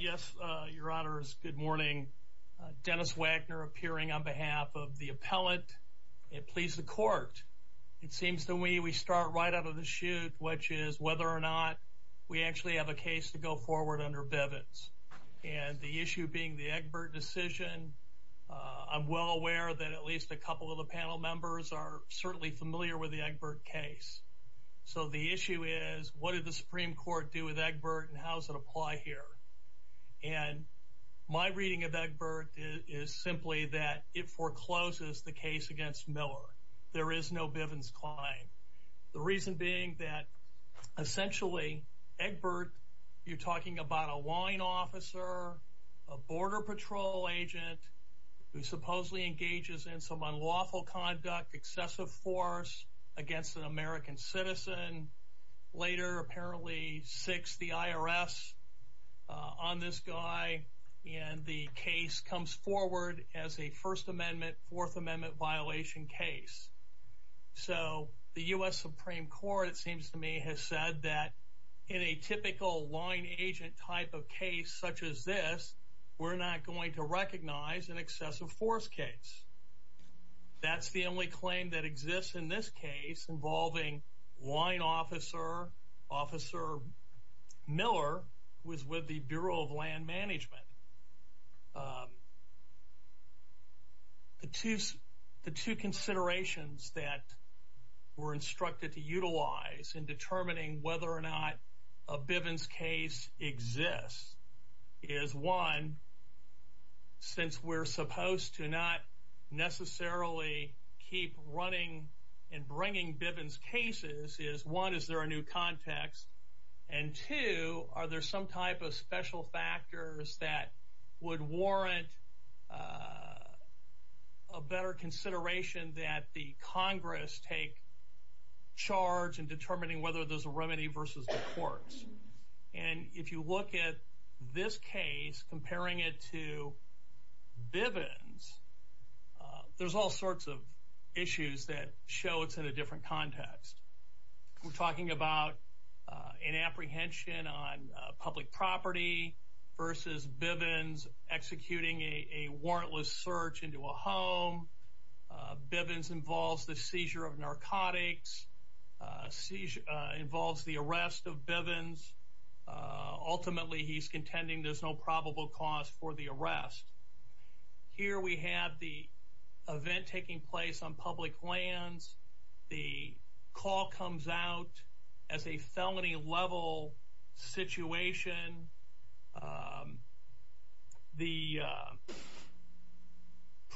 Yes, your honors. Good morning. Dennis Wagner appearing on behalf of the appellate. It pleased the court. It seems that we we start right out of the shoot, which is whether or not we actually have a case to go forward under Bevin's. And the issue being the Egbert decision. I'm well aware that at least a couple of the panel members are certainly familiar with the Egbert case. So the issue is, what did the Supreme Court do with Egbert and how does it apply here? And my reading of Egbert is simply that it forecloses the case against Miller. There is no Bevin's claim. The reason being that essentially Egbert, you're talking about a line officer, a border patrol agent, who supposedly is a U.S. citizen, later apparently sicks the IRS on this guy, and the case comes forward as a First Amendment, Fourth Amendment violation case. So the U.S. Supreme Court, it seems to me, has said that in a typical line agent type of case such as this, we're not going to recognize an excessive force case. That's the only claim that exists in this case involving line officer, Officer Miller, who is with the Bureau of Land Management. The two considerations that were instructed to utilize in determining whether or not a Bevin's case exists is, one, since we're supposed to not necessarily keep running and bringing Bevin's cases, is one, is there a new context? And two, are there some type of special factors that would warrant a better consideration that the Congress take charge in determining whether there's a remedy versus the courts? And if you look at this case, comparing it to Bevin's, there's all sorts of issues that show it's in a different context. We're talking about an apprehension on public property versus Bevin's executing a warrantless search into a home. Bevin's ultimately, he's contending there's no probable cause for the arrest. Here we have the event taking place on public lands. The call comes out as a felony level situation. The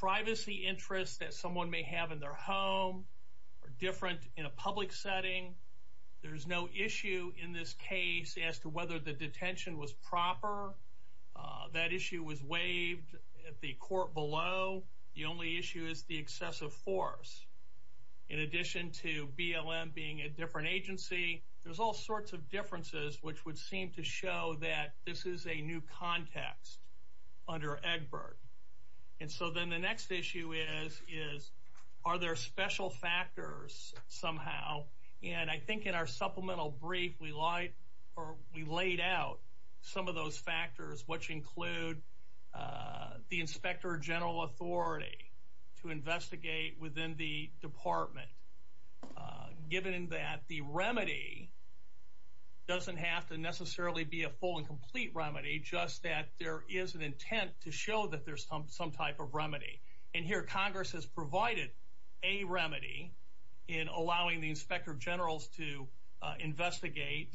privacy interests that someone may have in their home are different in a public setting. There's no issue in this case as to whether the detention was proper. That issue was waived at the court below. The only issue is the excessive force. In addition to BLM being a different agency, there's all sorts of differences which would seem to show that this is a new context under Egbert. And so then the special factors somehow, and I think in our supplemental brief we lied or we laid out some of those factors which include the Inspector General authority to investigate within the department, given that the remedy doesn't have to necessarily be a full and complete remedy, just that there is an intent to remedy in allowing the Inspector General to investigate.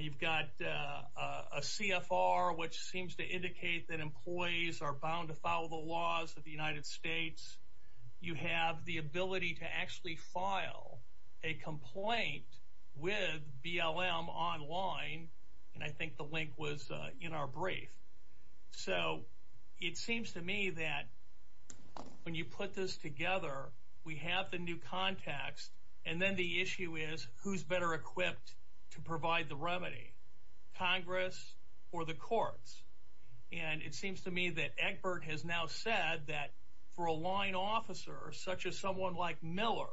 You've got a CFR which seems to indicate that employees are bound to follow the laws of the United States. You have the ability to actually file a complaint with BLM online, and I think the link was in our brief. So it seems to me that when you put this together, we have the new context, and then the issue is who's better equipped to provide the remedy, Congress or the courts? And it seems to me that Egbert has now said that for a line officer such as someone like Miller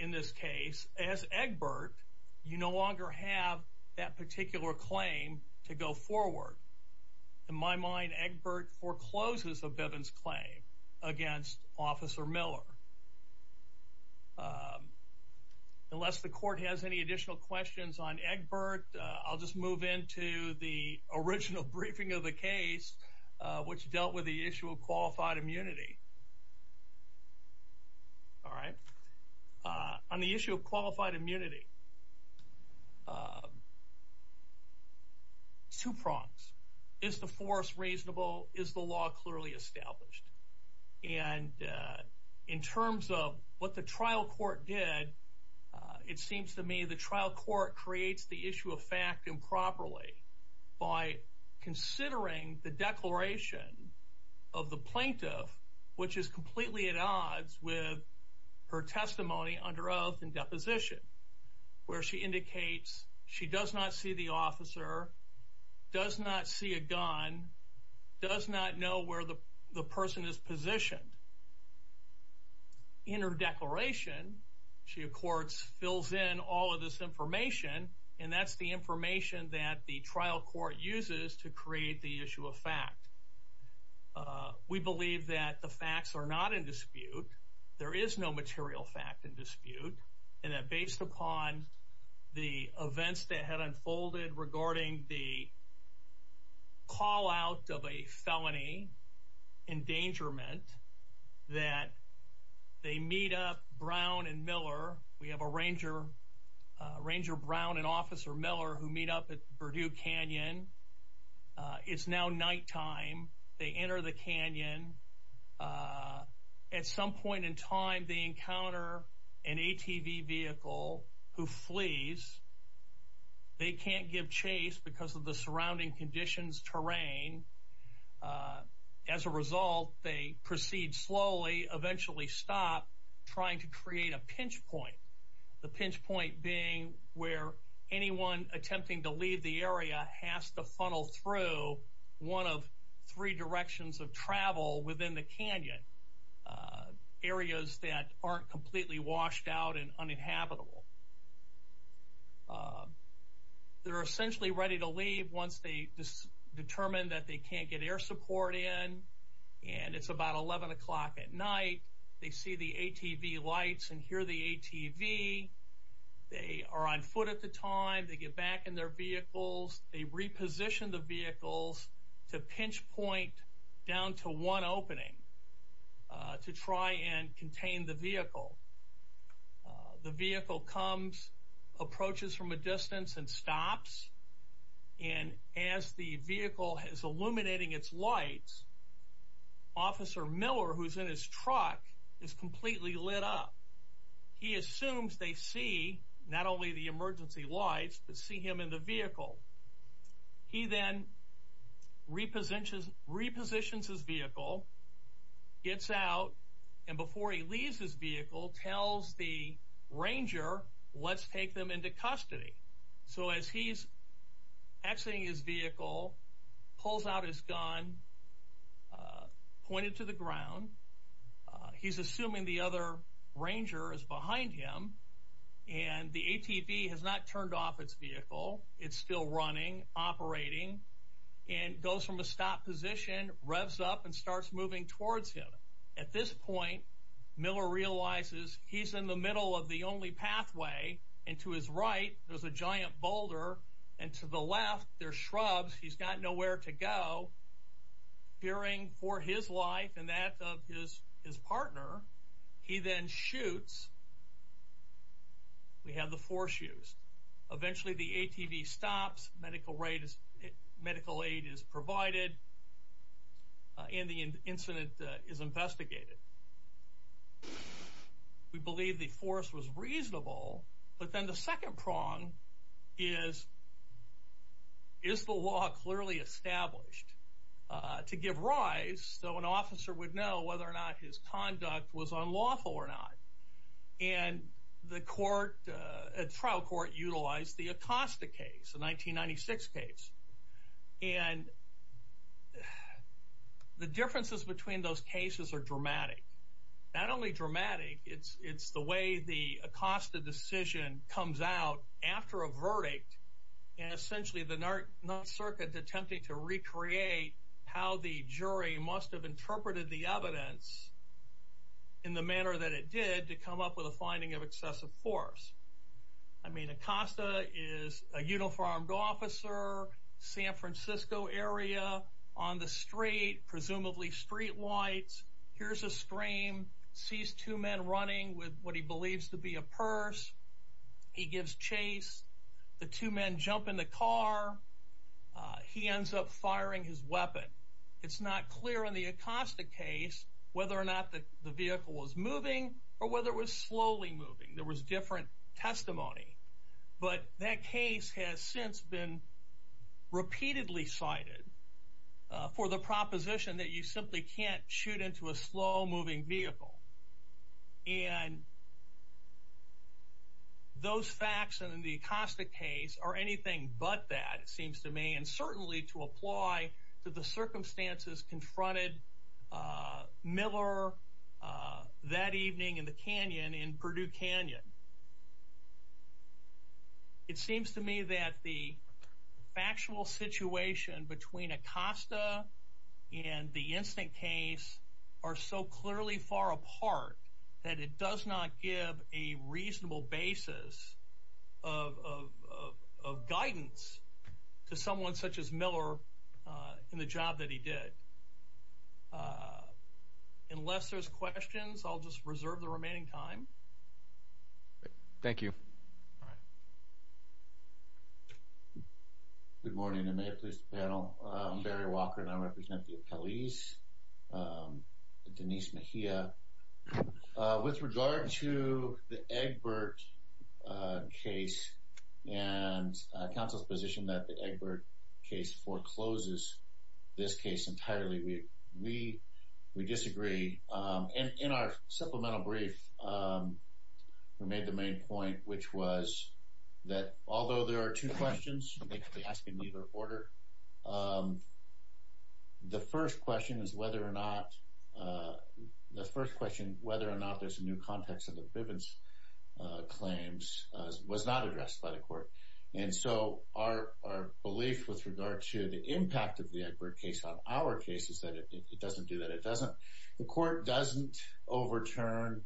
in this case, as Egbert, you no longer have that particular claim to go against Officer Miller. Unless the court has any additional questions on Egbert, I'll just move into the original briefing of the case, which dealt with the issue of qualified immunity. All right, on the issue of qualified immunity, two prongs. Is the force reasonable? Is the law clearly established? And in terms of what the trial court did, it seems to me the trial court creates the issue of fact improperly by considering the declaration of the plaintiff, which is where she indicates she does not see the officer, does not see a gun, does not know where the person is positioned. In her declaration, she, of course, fills in all of this information, and that's the information that the trial court uses to create the issue of fact. We believe that the facts are not in dispute. There is no material fact in the events that had unfolded regarding the call out of a felony endangerment that they meet up Brown and Miller. We have a ranger, Ranger Brown and Officer Miller, who meet up at Purdue Canyon. It's now nighttime. They enter the canyon. Uh, at some point in time, they encounter an ATV vehicle who flees. They can't give chase because of the surrounding conditions. Terrain. Uh, as a result, they proceed slowly, eventually stop trying to create a pinch point. The pinch point being where anyone attempting to leave the area has to funnel through one of three directions of travel within the canyon areas that aren't completely washed out and uninhabitable. They're essentially ready to leave once they determine that they can't get air support in, and it's about 11 o'clock at night. They see the ATV lights and hear the ATV. They are on foot at the time they get back in their vehicles. They repositioned the vehicles to pinch point down to one opening to try and contain the vehicle. The vehicle comes, approaches from a distance and stops. And as the vehicle has illuminating its lights, Officer Miller, who's in his truck, is completely lit up. He assumes they see not only the emergency lights, but see him in the vehicle. He then repositions, repositions his vehicle, gets out, and before he leaves his vehicle, tells the ranger, Let's take them into custody. So as he's exiting his vehicle, pulls out his gun, pointed to the ground. He's assuming the other ranger is behind him, and the ATV has not turned off its vehicle. It's still running, operating, and goes from a stop position, revs up and starts moving towards him. At this point, Miller realizes he's in the middle of the only pathway, and to his right there's a giant boulder, and to the left there's shrubs. He's got nowhere to go. Hearing for his life and that of his partner, he then shoots. We have the force used. Eventually the ATV stops, medical aid is provided, and the incident is investigated. We believe the force was reasonable, but then the second prong is, is the law clearly established to give rise so an officer would know whether or not his conduct was unlawful or not? And the court, the trial court, utilized the Acosta case, the 1996 case. And the differences between those cases are dramatic. Not only dramatic, it's the way the Acosta decision comes out after a verdict, and essentially the North Circuit attempting to recreate how the jury must have interpreted the evidence in the manner that it did to come up with a finding of excessive force. I mean, Acosta is a uniformed officer, San Francisco area, on the street, presumably street lights. Here's a screen, sees two men running with what he believes to be a purse. He gives chase. The two men jump in the car. He ends up firing his weapon. It's not clear in the Acosta case whether or not the vehicle was moving or whether it was slowly moving. There was different testimony, but that case has since been repeatedly cited for the reason. Those facts in the Acosta case are anything but that, it seems to me, and certainly to apply to the circumstances confronted Miller that evening in the canyon in Purdue Canyon. It seems to me that the factual situation between Acosta and the give a reasonable basis of guidance to someone such as Miller in the job that he did. Unless there's questions, I'll just reserve the remaining time. Thank you. Good morning, and may it please the panel. I'm Barry Walker, and I represent the appellees, Denise Mejia. With regard to the Egbert case and council's position that the Egbert case forecloses this case entirely, we disagree. In our supplemental brief, we made the main point, which was that although there are two questions, they could be asked in either order. The first question is whether or not, the first question, whether or not there's a new context of the Bivens claims was not addressed by the court. And so our belief with regard to the impact of the Egbert case on our case is that it doesn't do that. It doesn't. The court doesn't overturn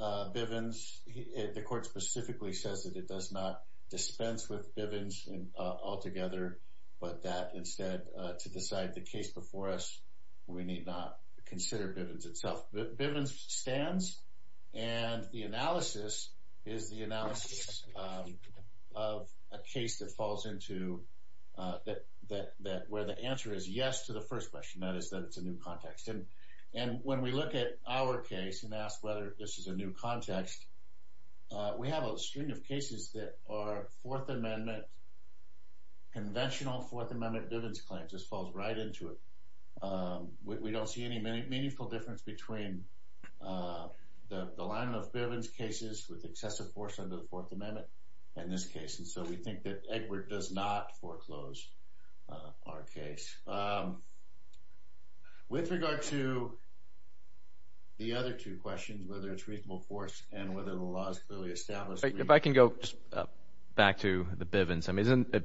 Bivens. The court specifically says that it does not dispense with Bivens altogether, but that instead to decide the case before us, we need not consider Bivens itself. Bivens stands, and the analysis is the analysis of a case that falls into that where the answer is yes to the first question. That is that it's a new context. And when we look at our case and ask whether this is a new context, we have a string of cases that are Fourth Amendment, conventional Fourth Amendment Bivens claims. This falls right into it. We don't see any meaningful difference between the line of Bivens cases with excessive force under the Fourth Amendment and this case. And so we think that Egbert does not foreclose our case. With regard to the other two questions, whether it's reasonable force and whether the law is clearly established. If I can go back to the Bivens, isn't a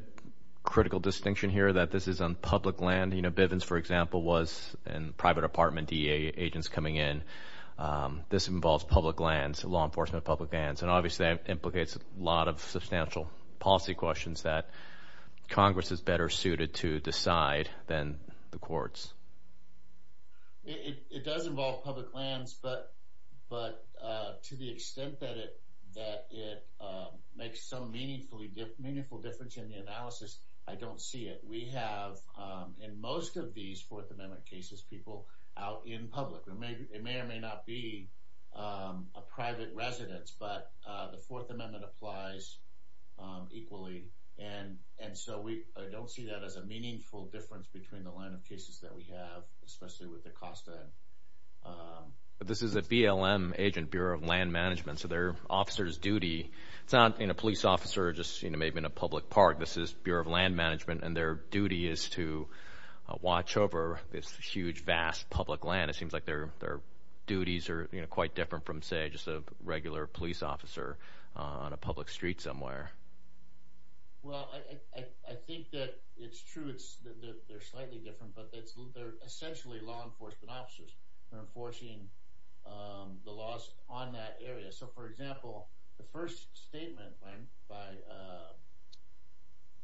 critical distinction here that this is on public land? You know, Bivens, for example, was in private apartment, D. A. Agents coming in. Um, this involves public lands, law enforcement, public lands, and obviously implicates a lot of substantial policy questions that Congress is better suited to decide than the courts. It does involve public lands, but but to the extent that it that it makes so meaningfully meaningful difference in the analysis, I don't see it. We have in most of these Fourth Amendment cases, people out in public. It may or may not be a private residence, but the Fourth Amendment applies equally. And and so we don't see that as a meaningful difference between the line of cases that we have, especially with the cost of this is a BLM agent Bureau of Land Management. So their officer's duty sound in a police officer, just, you know, maybe in a public park. This is Bureau of Land Management, and their duty is to watch over this huge, vast public land. It seems like their their duties are quite different from, say, just a regular police officer on a public street somewhere. Well, I think that it's true. It's that they're slightly different, but that's what they're essentially law enforcement officers are enforcing the laws on that area. So for example, the first statement by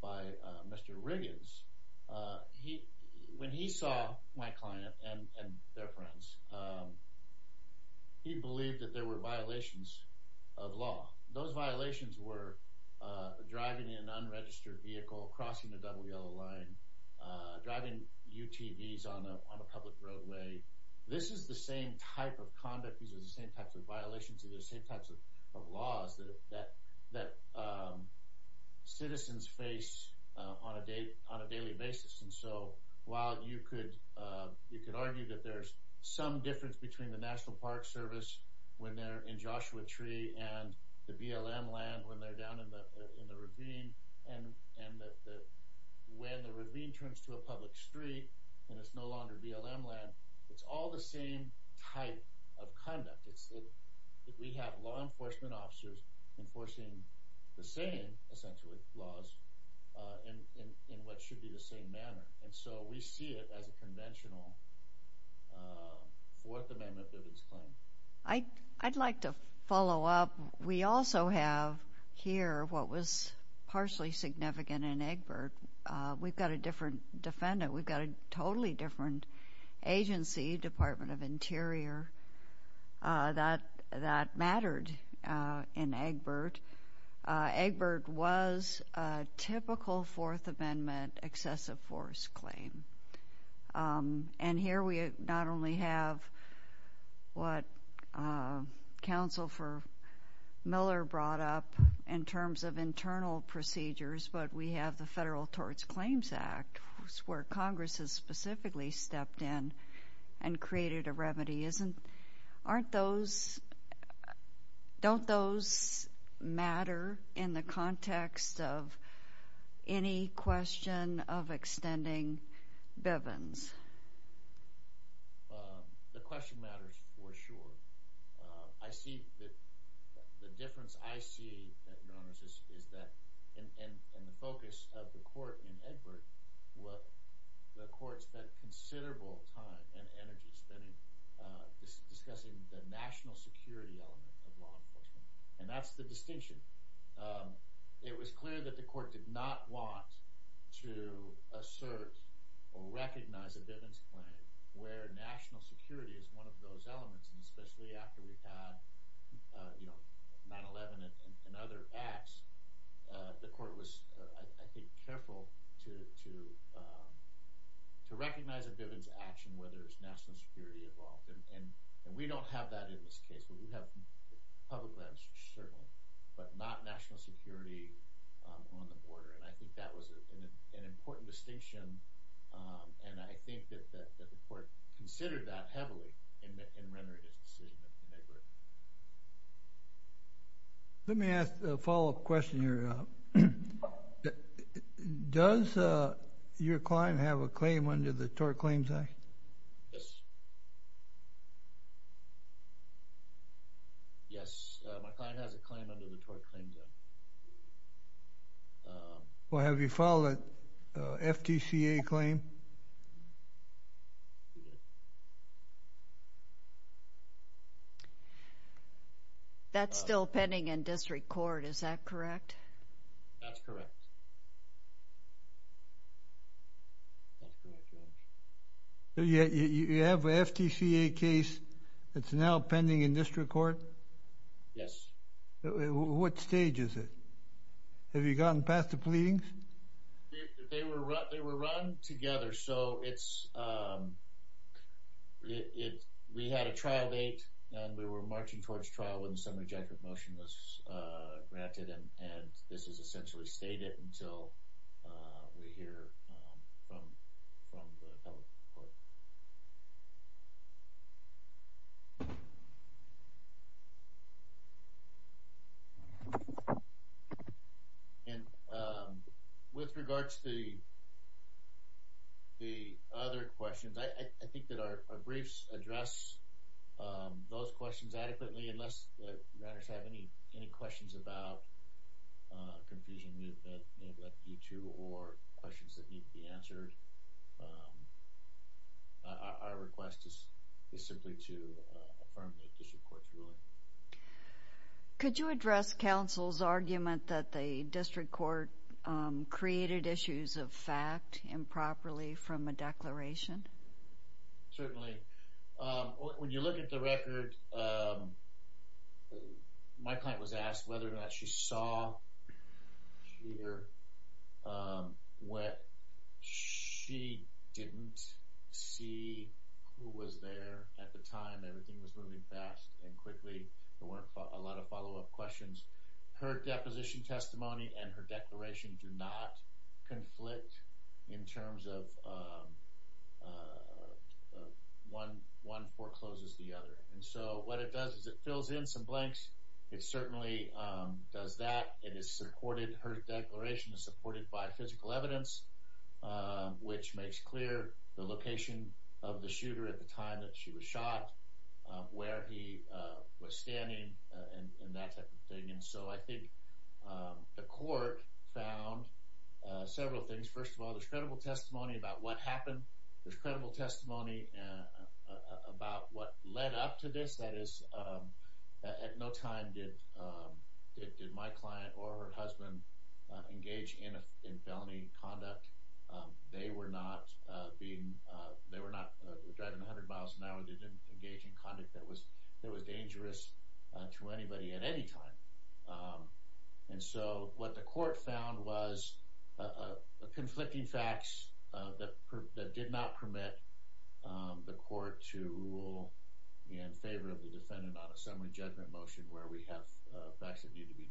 by Mr. Riggins, he when he saw my client and their friends, he believed that there were violations of law. Those driving an unregistered vehicle, crossing the double yellow line, driving UTVs on a public roadway. This is the same type of conduct. These are the same types of violations of the same types of laws that that that citizens face on a day on a daily basis. And so while you could, you could argue that there's some difference between the National Park Service when they're in Joshua Tree and the BLM land when they're down in the ravine. And when the ravine turns to a public street, and it's no longer BLM land, it's all the same type of conduct. It's that we have law enforcement officers enforcing the same, essentially, laws in what should be the same manner. And so we see it as a follow up. We also have here what was partially significant in Egbert. We've got a different defendant. We've got a totally different agency, Department of Interior, that that mattered in Egbert. Egbert was a typical Fourth Amendment excessive force claim. And here we not only have what Council for Miller brought up in terms of internal procedures, but we have the Federal Torts Claims Act, where Congress has specifically stepped in and created a question of extending Bivens. The question matters for sure. I see that the difference I see, Your Honors, is that in the focus of the court in Egbert, the court spent considerable time and energy spending discussing the national security element of law enforcement. And that's the distinction. It was clear that the court did not want to assert or recognize a Bivens claim where national security is one of those elements. And especially after we've had, you know, 9-11 and other acts, the court was, I think, careful to recognize a Bivens action, whether it's national security involved. And we don't have that in this case. We have public land search, certainly, but not national security on the border. And I think that was an important distinction. And I think that the court considered that heavily in rendering its decision in Egbert. Let me ask a follow-up question here. Does your client have a claim under the tort claim? Yes, my client has a claim under the tort claim, Judge. Well, have you filed an FTCA claim? That's still pending in district court, is that correct? That's correct. You have an FTCA case that's now pending in district court? Yes. What stage is it? Have you gotten past the pleadings? They were run together, so it's, we had a trial date and we were marching towards trial when the summary judgment motion was granted. And this is essentially stated until we hear from the public court. And with regards to the other questions, I think that our briefs address those questions adequately, unless the writers have any questions about confusion that may have led you to or questions that need to be answered. Our request is simply to affirm the district court's ruling. Could you address counsel's argument that the district court created issues of fact improperly from a declaration? Certainly. When you look at the record, my client was asked whether or not she saw here what she didn't see who was there at the time. Everything was moving fast and quickly. There weren't a lot of follow-up questions. Her deposition testimony and her declaration do not conflict in terms of one forecloses the other. And so what it does is it fills in some blanks. It certainly does that. It is supported, her declaration is supported by physical evidence, which makes clear the location of the shooter at the time that she was shot, where he was standing, and that type of thing. And so I think the court found several things. First of all, there's credible testimony about what happened. There's credible testimony about what led up to this. That is, at no time did my client or her husband engage in felony conduct. They were not driving 100 miles an hour. They didn't engage in conduct that was dangerous to anybody at any time. And so what the court found was conflicting facts that did not permit the court to rule in favor of the defendant on a summary judgment motion where we have facts that need to be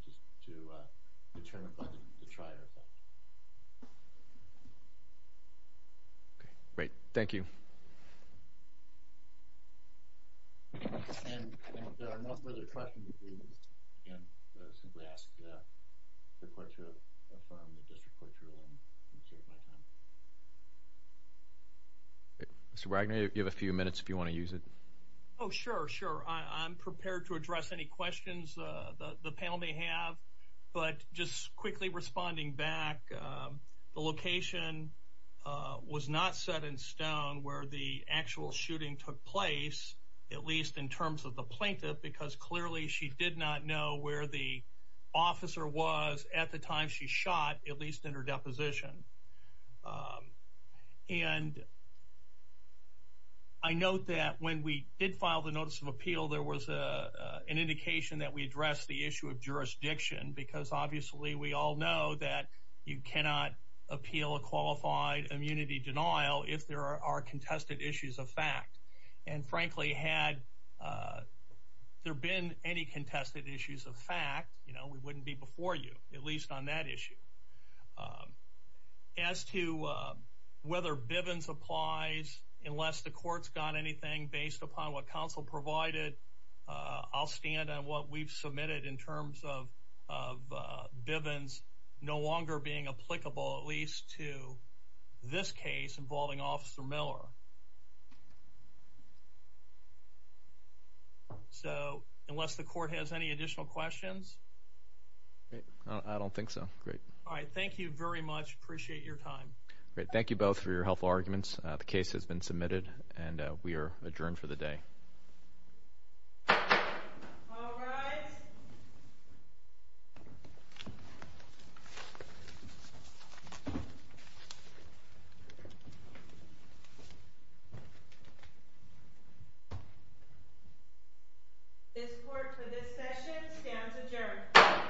determined by the trier effect. Okay, great. Thank you. And there are no further questions. Mr. Wagner, you have a few minutes if you want to use it. Oh, sure, sure. I'm prepared to address any questions the panel may have. But just quickly responding back, the location was not set in stone where the actual shooting took place, at least in terms of the plaintiff, because clearly she did not know where the officer was at the time she shot, at least in her deposition. And I note that when we did file the notice of appeal, there was an indication that we addressed the issue of jurisdiction, because obviously we all know that you cannot appeal a qualified immunity denial if there are contested issues of fact. And frankly, had there been any contested issues of fact, we wouldn't be before you, at least on that issue. As to whether Bivens applies, unless the court's got anything based upon what counsel provided, I'll stand on what we've submitted in terms of Bivens no longer being applicable, at least to this case involving Officer Miller. So unless the court has any additional questions. I don't think so. Great. All right. Thank you very much. Appreciate your time. Great. Thank you both for your helpful arguments. The case has been submitted, and we are adjourned for the day. This court for this session stands adjourned.